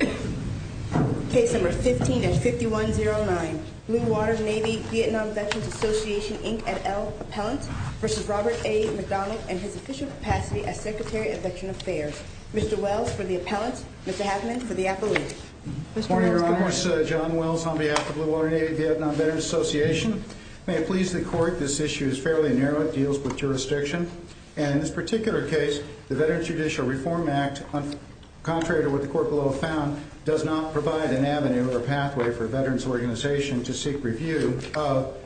15-5109 Blue Water Navy Vietnam Veterans Association, Inc. et al. Appellant v. Robert A. McDonald and his official capacity as Secretary of Veteran Affairs. Mr. Wells for the Appellant, Mr. Haffman for the Appellant. Mr. Wells. Good morning, Your Honor. John Wells on behalf of Blue Water Navy Vietnam Veterans Association. May it please the Court, this issue is fairly narrow. It deals with jurisdiction. And in this particular case, the Veterans Judicial Reform Act, contrary to what the Court below found, does not provide an avenue or pathway for a veterans organization to seek review of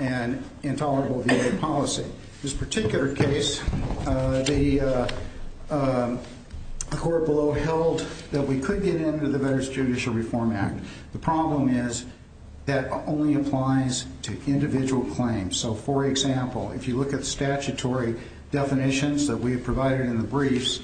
an intolerable VA policy. In this particular case, the Court below held that we could get into the Veterans Judicial Reform Act. The problem is that only applies to individual claims. So, for example, if you look at statutory definitions that we have provided in the briefs,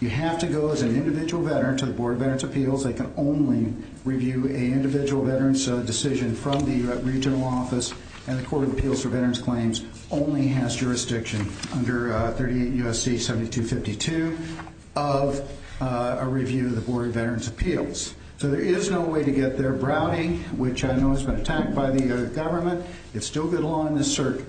you have to go as an individual veteran to the Board of Veterans' Appeals. They can only review an individual veteran's decision from the regional office. And the Court of Appeals for Veterans' Claims only has jurisdiction under 38 U.S.C. 7252 of a review of the Board of Veterans' Appeals. So there is no way to get there. Browning, which I know has been attacked by the government, it's still good law in this circuit.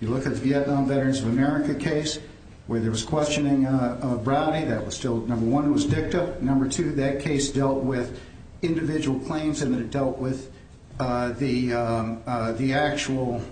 If you look at the Vietnam Veterans of America case, where there was questioning of Browning, that was still, number one, it was dicta. Number two, that case dealt with individual claims and it dealt with the actual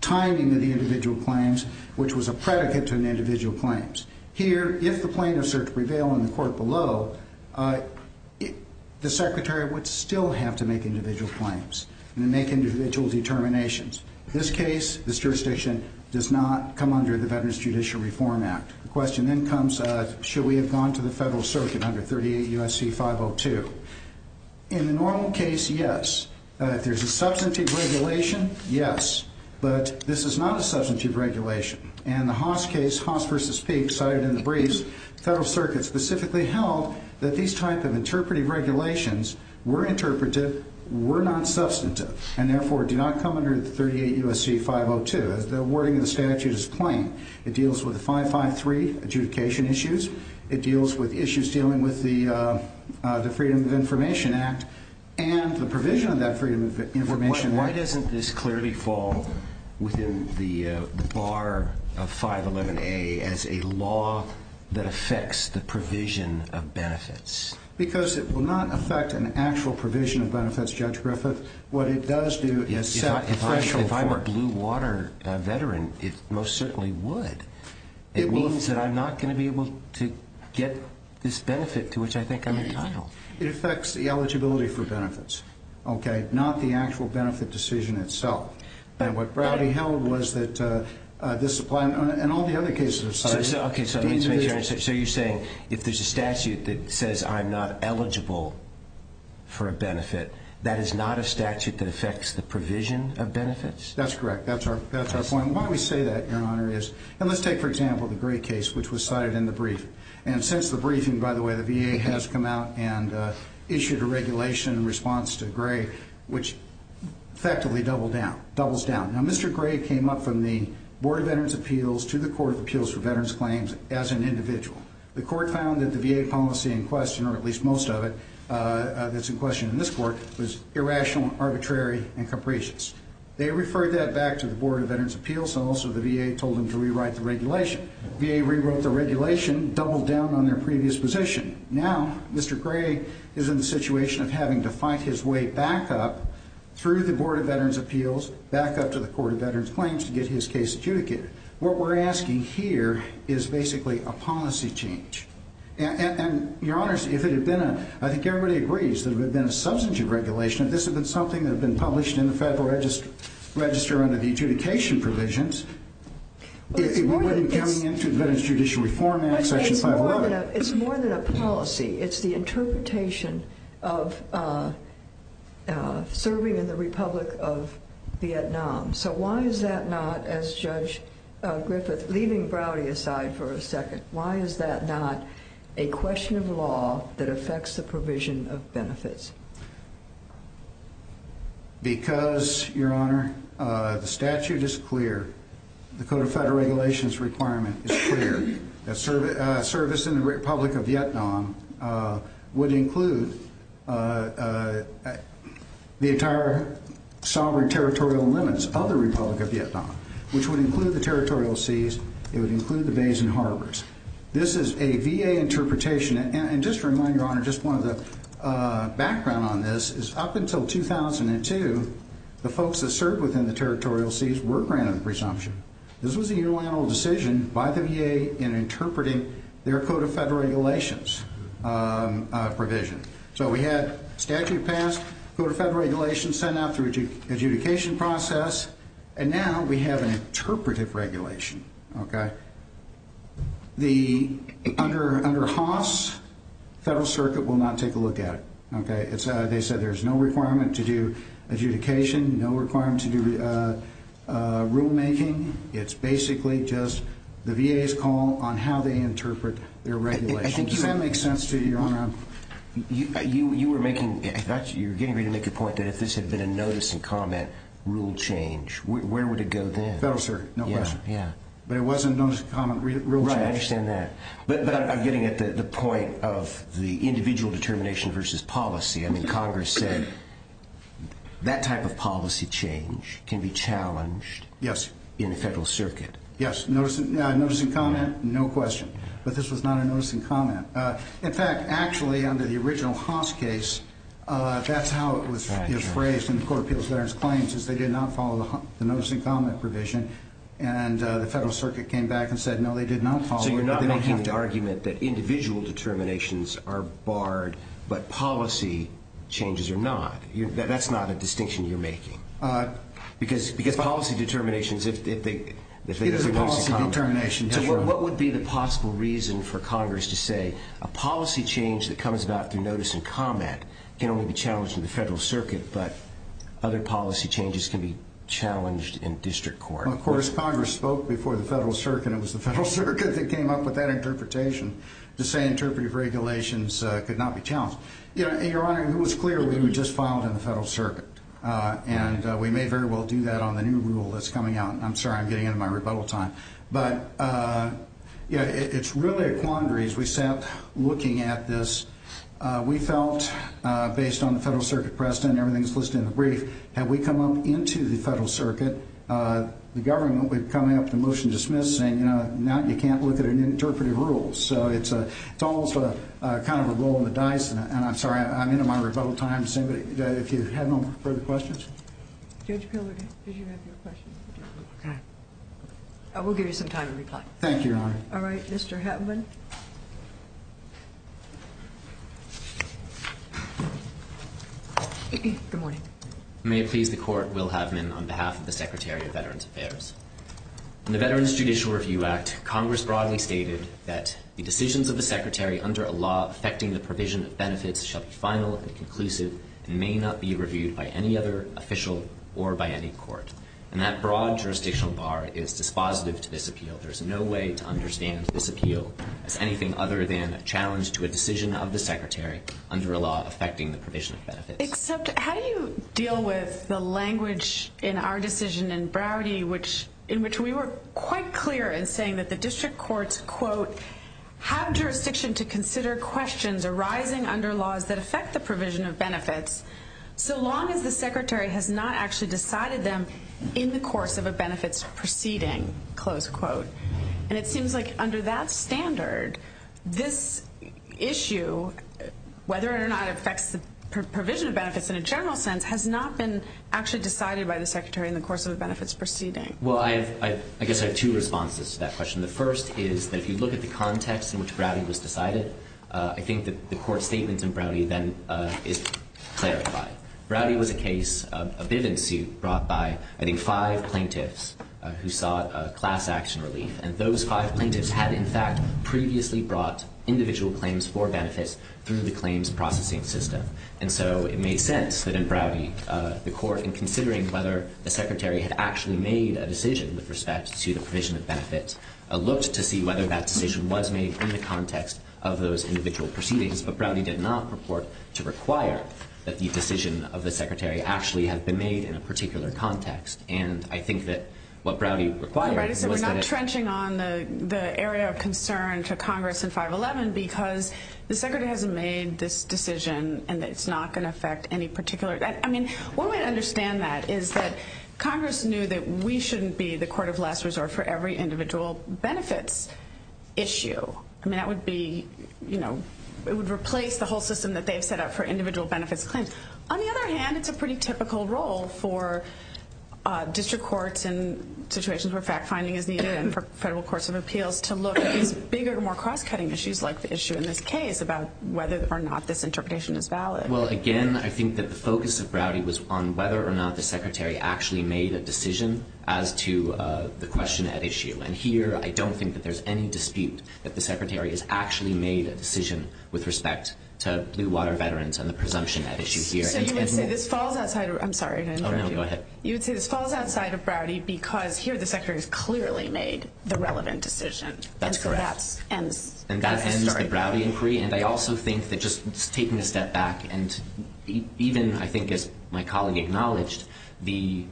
timing of the individual claims, which was a predicate to an individual claims. Here, if the plaintiffs are to prevail in the Court below, the Secretary would still have to make individual claims and make individual determinations. This case, this jurisdiction, does not come under the Veterans Judicial Reform Act. The question then comes, should we have gone to the Federal Circuit under 38 U.S.C. 502? In the normal case, yes. If there's a substantive regulation, yes. But this is not a substantive regulation. In the Haas case, Haas v. Peek, cited in the briefs, the Federal Circuit specifically held that these type of interpretive regulations were interpretive, were not substantive, and therefore do not come under 38 U.S.C. 502. The wording of the statute is plain. It deals with the 553 adjudication issues. It deals with issues dealing with the Freedom of Information Act and the provision of that Freedom of Information Act. Why doesn't this clearly fall within the bar of 511A as a law that affects the provision of benefits? Because it will not affect an actual provision of benefits, Judge Griffith. What it does do is set the threshold for it. If I'm a Blue Water veteran, it most certainly would. It means that I'm not going to be able to get this benefit to which I think I'm entitled. It affects the eligibility for benefits, okay? Not the actual benefit decision itself. And what Browdy held was that this applied, and all the other cases of such, the individual So you're saying, if there's a statute that says I'm not eligible for a benefit, that is not a statute that affects the provision of benefits? That's correct. That's our point. Why we say that, Your Honor, is, and let's take for example the Gray case, which was cited in the briefing. And since the briefing, by the way, the VA has come out and issued a regulation in response to Gray, which effectively doubles down. Now Mr. Gray came up from the Board of Veterans' Appeals to the Court of Appeals for Veterans Claims as an individual. The Court found that the VA policy in question, or at least most of it that's in question in this Court, was irrational, arbitrary, and capricious. They referred that back to the Board of Veterans' Appeals, and also the VA told them to rewrite the regulation. The VA rewrote the regulation, doubled down on their previous position. Now Mr. Gray is in the situation of having to fight his way back up through the Board of Veterans' Appeals, back up to the Court of Veterans' Claims to get his case adjudicated. What we're asking here is basically a policy change. And, Your Honors, if it had been a, I think everybody agrees that if it had been a substantive regulation, if this had been something that had been published in the Federal Register under the adjudication provisions, it wouldn't be coming into the Veterans Judicial Reform Act, Section 511. It's more than a policy. It's the interpretation of serving in the Republic of Vietnam. So why is that not, as Judge Griffith, leaving Browdy aside for a second, why is that not a question of law that affects the provision of benefits? Because, Your Honor, the statute is clear, the Code of Federal Regulations requirement is clear, that service in the Republic of Vietnam would include the entire sovereign territorial limits of the Republic of Vietnam, which would include the territorial seas, it would include the bays and harbors. This is a VA interpretation, and just to remind, Your Honor, just one of the background on this is up until 2002, the folks that served within the territorial seas were granted presumption. This was a unilateral decision by the VA in interpreting their Code of Federal Regulations provision. So we had statute passed, Code of Federal Regulations sent out through adjudication process, and now we have an interpretive regulation. Under Haas, the Federal Circuit will not take a look at it. They said there's no requirement to do adjudication, no requirement to do rulemaking. It's basically just the VA's call on how they interpret their regulations. Does that make sense to you, Your Honor? You were getting ready to make a point that if this had been a notice and comment rule change, where would it go then? Federal Circuit, no question. But it wasn't a notice and comment rule change. Right, I understand that. But I'm getting at the point of the individual determination versus policy. I mean, Congress said that type of policy change can be challenged in the Federal Circuit. Yes, notice and comment, no question. But this was not a notice and comment. In fact, actually, under the original Haas case, that's how it was phrased in the Court of Appeals of Veterans Claims, is they did not follow the notice and comment provision. And the Federal Circuit came back and said, no, they did not follow it. So you're not making the argument that individual determinations are barred, but policy changes are not. That's not a distinction you're making. Because policy determinations, if they do notice and comment. It is a policy determination, yes, Your Honor. So what would be the possible reason for Congress to say a policy change that comes about through notice and comment can only be challenged in the Federal Circuit, but other policy changes can be challenged in district court? Well, of course, Congress spoke before the Federal Circuit, and it was the Federal Circuit that came up with that interpretation to say interpretive regulations could not be challenged. And, Your Honor, it was clear we would just file it in the Federal Circuit. And we may very well do that on the new rule that's coming out. I'm sorry, I'm getting into my rebuttal time. But, yeah, it's really a quandary as we sat looking at this. We felt, based on the Federal Circuit precedent and everything that's listed in the brief, had we come up into the Federal Circuit, the government would be coming up with a motion to dismiss saying, you know, now you can't look at an interpretive rule. So it's almost kind of a roll on the dice. And I'm sorry, I'm into my rebuttal time. If you have no further questions? Judge Piller, did you have your question? No. Okay. We'll give you some time to reply. Thank you, Your Honor. All right, Mr. Havman. Good morning. May it please the Court, Will Havman on behalf of the Secretary of Veterans Affairs. In the Veterans Judicial Review Act, Congress broadly stated that the decisions of the Secretary under a law affecting the provision of benefits shall be final and conclusive and may not be reviewed by any other official or by any court. And that broad jurisdictional bar is dispositive to this appeal. There's no way to understand this appeal as anything other than a challenge to a decision of the Secretary under a law affecting the provision of benefits. Except, how do you deal with the language in our decision in Browardy in which we were quite clear in saying that the district courts, quote, have jurisdiction to consider questions arising under laws that affect the provision of benefits so long as the Secretary has not actually decided them in the course of a benefits proceeding, close quote. And it seems like under that standard, this issue, whether or not it affects the provision of benefits in a general sense, has not been actually decided by the Secretary in the course of the benefits proceeding. Well, I guess I have two responses to that question. The first is that if you look at the context in which Browardy was decided, I think that the Court's statement in Browardy then is clarified. Browardy was a case, a Bivens suit, brought by, I think, five plaintiffs who sought class action relief. And those five plaintiffs had, in fact, previously brought individual claims for benefits through the claims processing system. And so it made sense that in Browardy, the Court, in considering whether the Secretary had actually made a decision, was made in the context of those individual proceedings. But Browardy did not purport to require that the decision of the Secretary actually have been made in a particular context. And I think that what Browardy required was that it— Right. So we're not trenching on the area of concern to Congress in 511 because the Secretary hasn't made this decision and it's not going to affect any particular—I mean, one way to understand that is that Congress knew that we shouldn't be the court of last individual benefits issue. I mean, that would be, you know, it would replace the whole system that they've set up for individual benefits claims. On the other hand, it's a pretty typical role for district courts in situations where fact-finding is needed and for federal courts of appeals to look at these bigger, more cross-cutting issues like the issue in this case about whether or not this interpretation is valid. Well, again, I think that the focus of Browardy was on whether or not the Secretary actually made a decision as to the question at issue. And here, I don't think that there's any dispute that the Secretary has actually made a decision with respect to Blue Water Veterans and the presumption at issue here. So you would say this falls outside—I'm sorry. Oh, no, go ahead. You would say this falls outside of Browardy because here the Secretary's clearly made the relevant decision. That's correct. And so that ends— And that ends the Browardy inquiry. And I also think that just taking a step back and even, I think, as my colleague acknowledged, the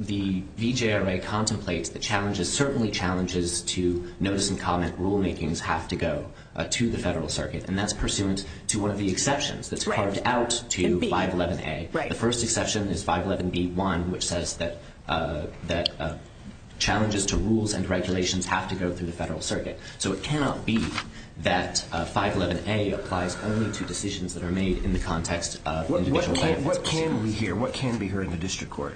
VJRA contemplates the challenges, certainly challenges, to notice and comment rulemakings have to go to the federal circuit. And that's pursuant to one of the exceptions that's carved out to 511A. Right. The first exception is 511B1, which says that challenges to rules and regulations have to go through the federal circuit. So it cannot be that 511A applies only to decisions that are made in the context of individual benefits. What can we hear? What can be heard in the district court?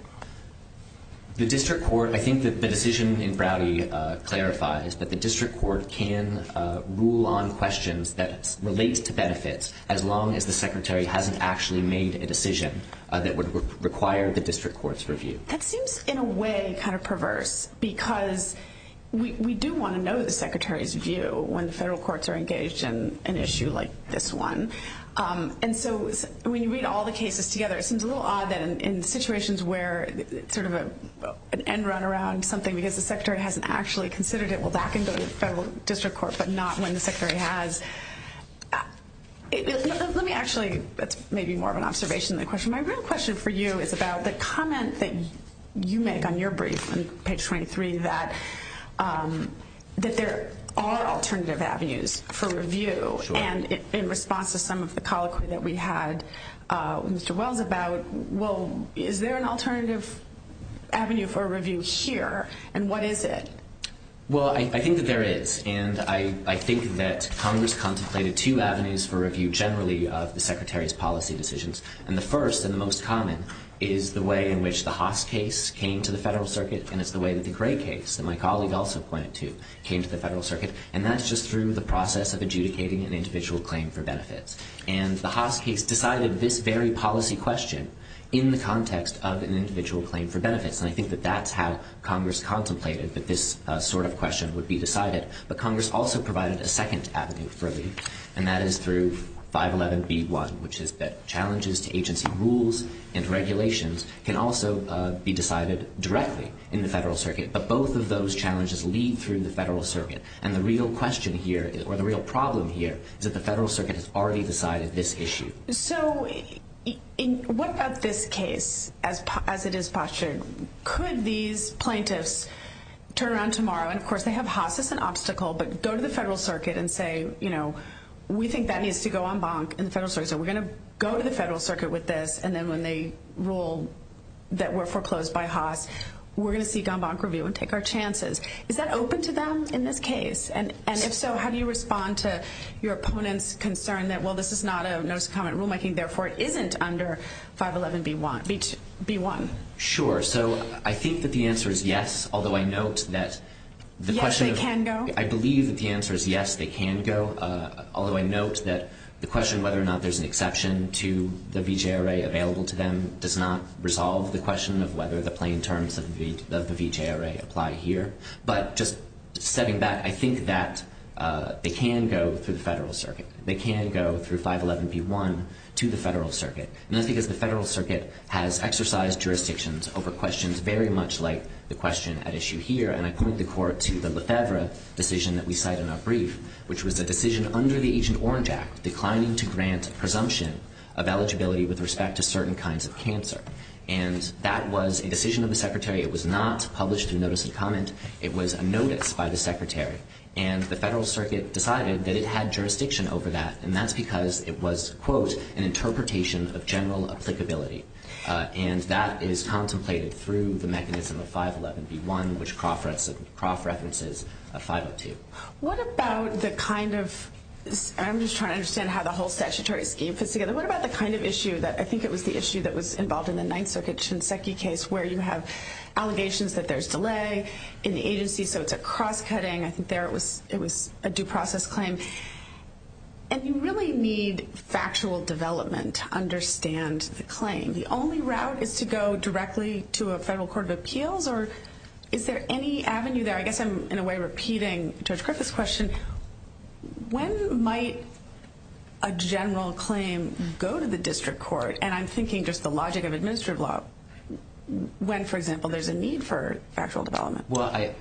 The district court—I think that the decision in Browardy clarifies that the district court can rule on questions that relate to benefits as long as the Secretary hasn't actually made a decision that would require the district court's review. That seems, in a way, kind of perverse because we do want to know the Secretary's view when the federal courts are engaged in an issue like this one. And so when you read all the cases together, it seems a little odd that in situations where it's sort of an end run around something because the Secretary hasn't actually considered it, well, that can go to the federal district court, but not when the Secretary has. Let me actually—that's maybe more of an observation than a question. My real question for you is about the comment that you make on your brief on page 23 that there are alternative avenues for review, and in response to some of the colloquy that we had with Mr. Wells about, well, is there an alternative avenue for review here, and what is it? Well, I think that there is, and I think that Congress contemplated two avenues for review generally of the Secretary's policy decisions. And the first and the most common is the way in which the Haas case came to the federal circuit, and that's just through the process of adjudicating an individual claim for benefits. And the Haas case decided this very policy question in the context of an individual claim for benefits, and I think that that's how Congress contemplated that this sort of question would be decided. But Congress also provided a second avenue for review, and that is through 511B1, which is that challenges to agency rules and regulations can also be decided directly in the federal circuit, but both of those challenges lead through the federal circuit. And the real question here, or the real problem here, is that the federal circuit has already decided this issue. So, what about this case as it is postured? Could these plaintiffs turn around tomorrow, and of course they have Haas as an obstacle, but go to the federal circuit and say, you know, we think that needs to go en banc in the federal circuit, so we're going to go to the federal circuit with this, and then when they rule that we're foreclosed by Haas, we're going to seek en banc review and take our chances. Is that open to them in this case, and if so, how do you respond to your opponent's concern that, well, this is not a notice of comment rulemaking, therefore it isn't under 511B1? Sure. So, I think that the answer is yes, although I note that the question of... Yes, they can go? I believe that the answer is yes, they can go, although I note that the question of whether or not there's an exception to the VJRA available to them does not resolve the question of whether the plain terms of the VJRA apply here, but just setting that, I think that they can go through the federal circuit. They can go through 511B1 to the federal circuit, and that's because the federal circuit has exercised jurisdictions over questions very much like the question at issue here, and I point the court to the LeFevre decision that we cite in our brief, which was a decision under the Agent Orange Act declining to grant presumption of eligibility with respect to certain kinds of cancer, and that was a decision of the secretary. It was not published in notice of comment. It was a notice by the secretary, and the federal circuit decided that it had jurisdiction over that, and that's because it was, quote, an interpretation of general applicability, and that is contemplated through the mechanism of 511B1, which Croft references 502. What about the kind of, and I'm just trying to understand how the whole statutory scheme fits together. What about the kind of issue that, I think it was the issue that was involved in the Ninth Circuit Shinseki case where you have allegations that there's delay in the agency, so it's a cross-cutting. I think there it was a due process claim, and you really need factual development to understand the claim. The only route is to go directly to a federal court of appeals, or is there any avenue there? I guess I'm, in a way, repeating Judge Griffith's question. When might a general claim go to the district court, and I'm thinking just the logic of administrative law, when, for example, there's a need for factual development? Well,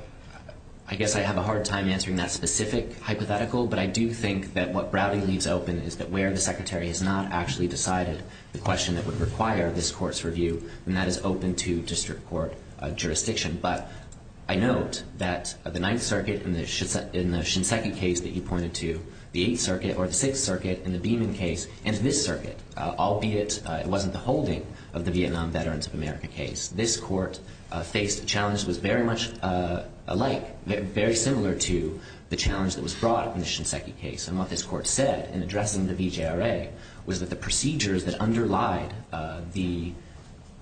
I guess I have a hard time answering that specific hypothetical, but I do think that what Browding leaves open is that where the secretary has not actually decided the question that would require this court's review, and that is open to district court jurisdiction. But I note that the Ninth Circuit in the Shinseki case that you pointed to, the Eighth Circuit or the Sixth Circuit in the Beeman case, and this circuit, albeit it wasn't the holding of the Vietnam Veterans of America case, this court faced a challenge that was very much alike, very similar to the challenge that was brought in the Shinseki case. And what this court said in addressing the VJRA was that the procedures that underlied the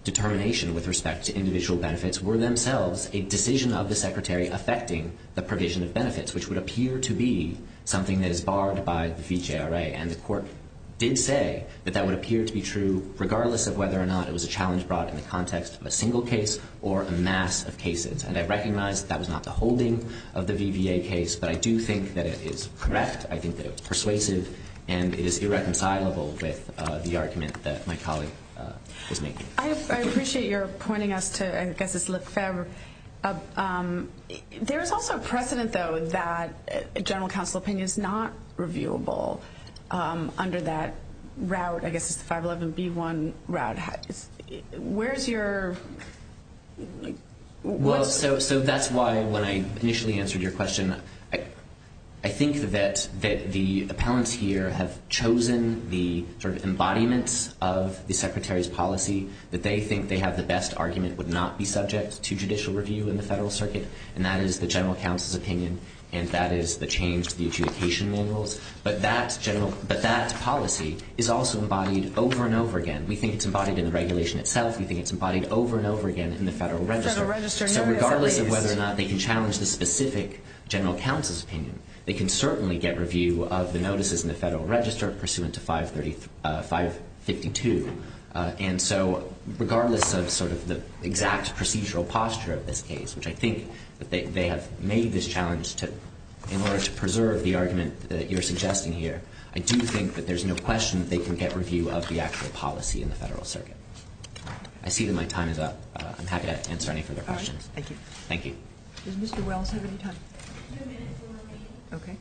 determination with respect to individual benefits were themselves a decision of the secretary affecting the provision of benefits, which would appear to be something that is barred by the VJRA. And the court did say that that would appear to be true regardless of whether or not it was a challenge brought in the context of a single case or a mass of cases. And I recognize that that was not the holding of the VVA case, but I do think that it is correct. I think that it was persuasive, and it is irreconcilable with the argument that my colleague was making. I appreciate your pointing us to, I guess it's Lefebvre. There is also precedent, though, that general counsel opinion is not reviewable under that route, I guess it's the 511B1 route. Where's your... Well, so that's why when I initially answered your question, I think that the appellants here have chosen the sort of embodiments of the secretary's policy that they think they have the best argument would not be subject to judicial review in the federal circuit, and that is the general counsel's opinion, and that is the change to the adjudication manuals. But that policy is also embodied over and over again. We think it's embodied in the regulation itself. We think it's embodied over and over again in the federal register. So regardless of whether or not they can challenge the specific general counsel's opinion, they can certainly get review of the notices in the federal register pursuant to 552. And so regardless of sort of the exact procedural posture of this case, which I think that they have made this challenge in order to preserve the argument that you're suggesting here, I do think that there's no question that they can get review of the actual policy in the federal circuit. I see that my time is up. I'm happy to answer any further questions. All right. Thank you. Thank you. Does Mr. Wells have any time? Two minutes remaining. Okay.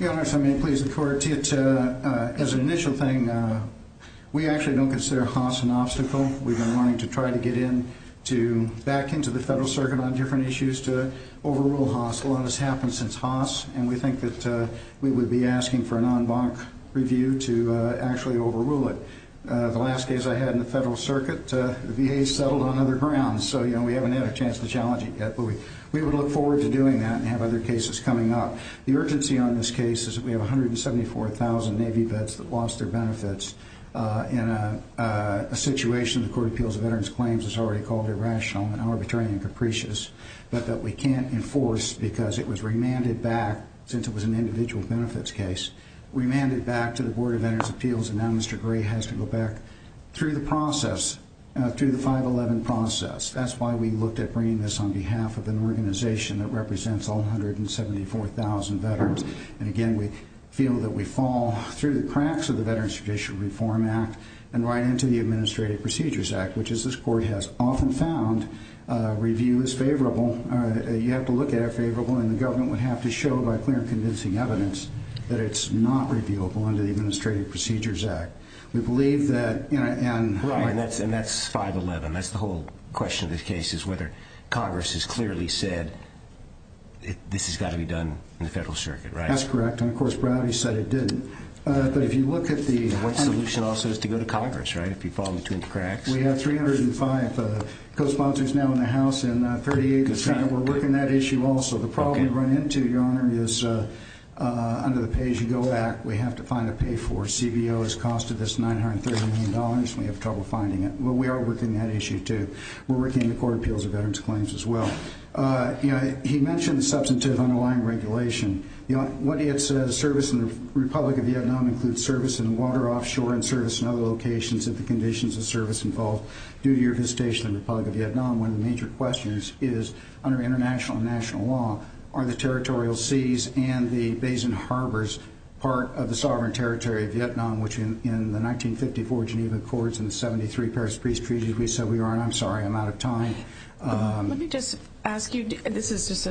Your Honor, if I may please the Court. As an initial thing, we actually don't consider Haas an obstacle. We've been wanting to try to get in to back into the federal circuit on different issues to overrule Haas. A lot has happened since Haas, and we think that we would be asking for an en banc review to actually overrule it. The last case I had in the federal circuit, the VA settled on other grounds. So, you know, we haven't had a chance to challenge it yet. But we would look forward to doing that and have other cases coming up. The urgency on this case is that we have 174,000 Navy vets that lost their benefits in a situation the Court of Appeals of Veterans Claims has already called irrational and arbitrary and capricious, but that we can't enforce because it was remanded back, since it was an individual benefits case, remanded back to the Board of Veterans Appeals, and now Mr. Gray has to go back through the process, through the 511 process. That's why we looked at bringing this on behalf of an organization that represents 174,000 veterans. And again, we feel that we fall through the cracks of the Veterans Tradition Reform Act and right into the Administrative Procedures Act, which as this Court has often found, review is favorable. You have to look at it favorable, and the government would have to show by clear and transparent evidence that it's not reviewable under the Administrative Procedures Act. We believe that... Right, and that's 511. That's the whole question of this case, is whether Congress has clearly said this has got to be done in the Federal Circuit, right? That's correct, and of course, Browdy said it didn't. But if you look at the... One solution also is to go to Congress, right? If you fall in between the cracks. We have 305 co-sponsors now in the House, and 38% were working that issue also. The problem we run into, Your Honor, is under the Pay As You Go Act, we have to find a pay for CBO. It's costed us $930 million, and we have trouble finding it. Well, we are working that issue too. We're working the Court of Appeals of Veterans Claims as well. He mentioned substantive underlying regulation. What it says, service in the Republic of Vietnam includes service in water, offshore, and service in other locations if the conditions of service involve duty or visitation in the Republic of Vietnam. One of the major questions is, under international and national law, are the territorial seas and the bays and harbors part of the sovereign territory of Vietnam, which in the 1954 Geneva Accords and the 73 Paris Peace Treaties, we said we are. And I'm sorry, I'm out of time. Let me just ask you... This is just,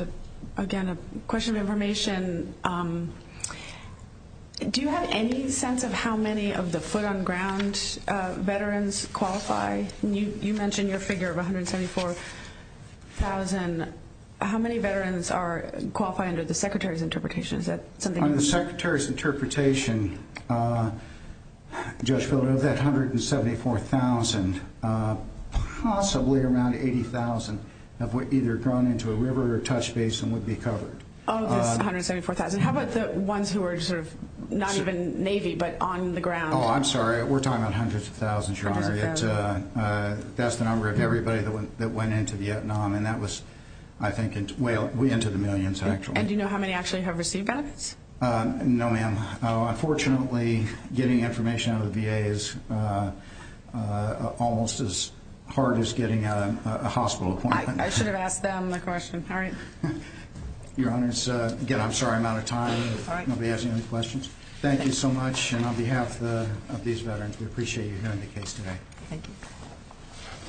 again, a question of information. Do you have any sense of how many of the foot-on-ground veterans qualify? You mentioned your figure of 174,000. How many veterans qualify under the Secretary's interpretation? Under the Secretary's interpretation, Judge Phillips, of that 174,000, possibly around 80,000 have either gone into a river or touch base and would be covered. Of this 174,000? How about the ones who are not even Navy but on the ground? Oh, I'm sorry. We're talking about hundreds of thousands, Your Honor. That's the number of everybody that went into Vietnam, and that was, I think, way into the millions, actually. And do you know how many actually have received benefits? No, ma'am. Unfortunately, getting information out of the VA is almost as hard as getting a hospital appointment. I should have asked them the question. All right. Your Honor, again, I'm sorry I'm out of time. I won't be asking any questions. Thank you so much. Thank you for your question on behalf of these veterans. We appreciate you hearing the case today. Thank you.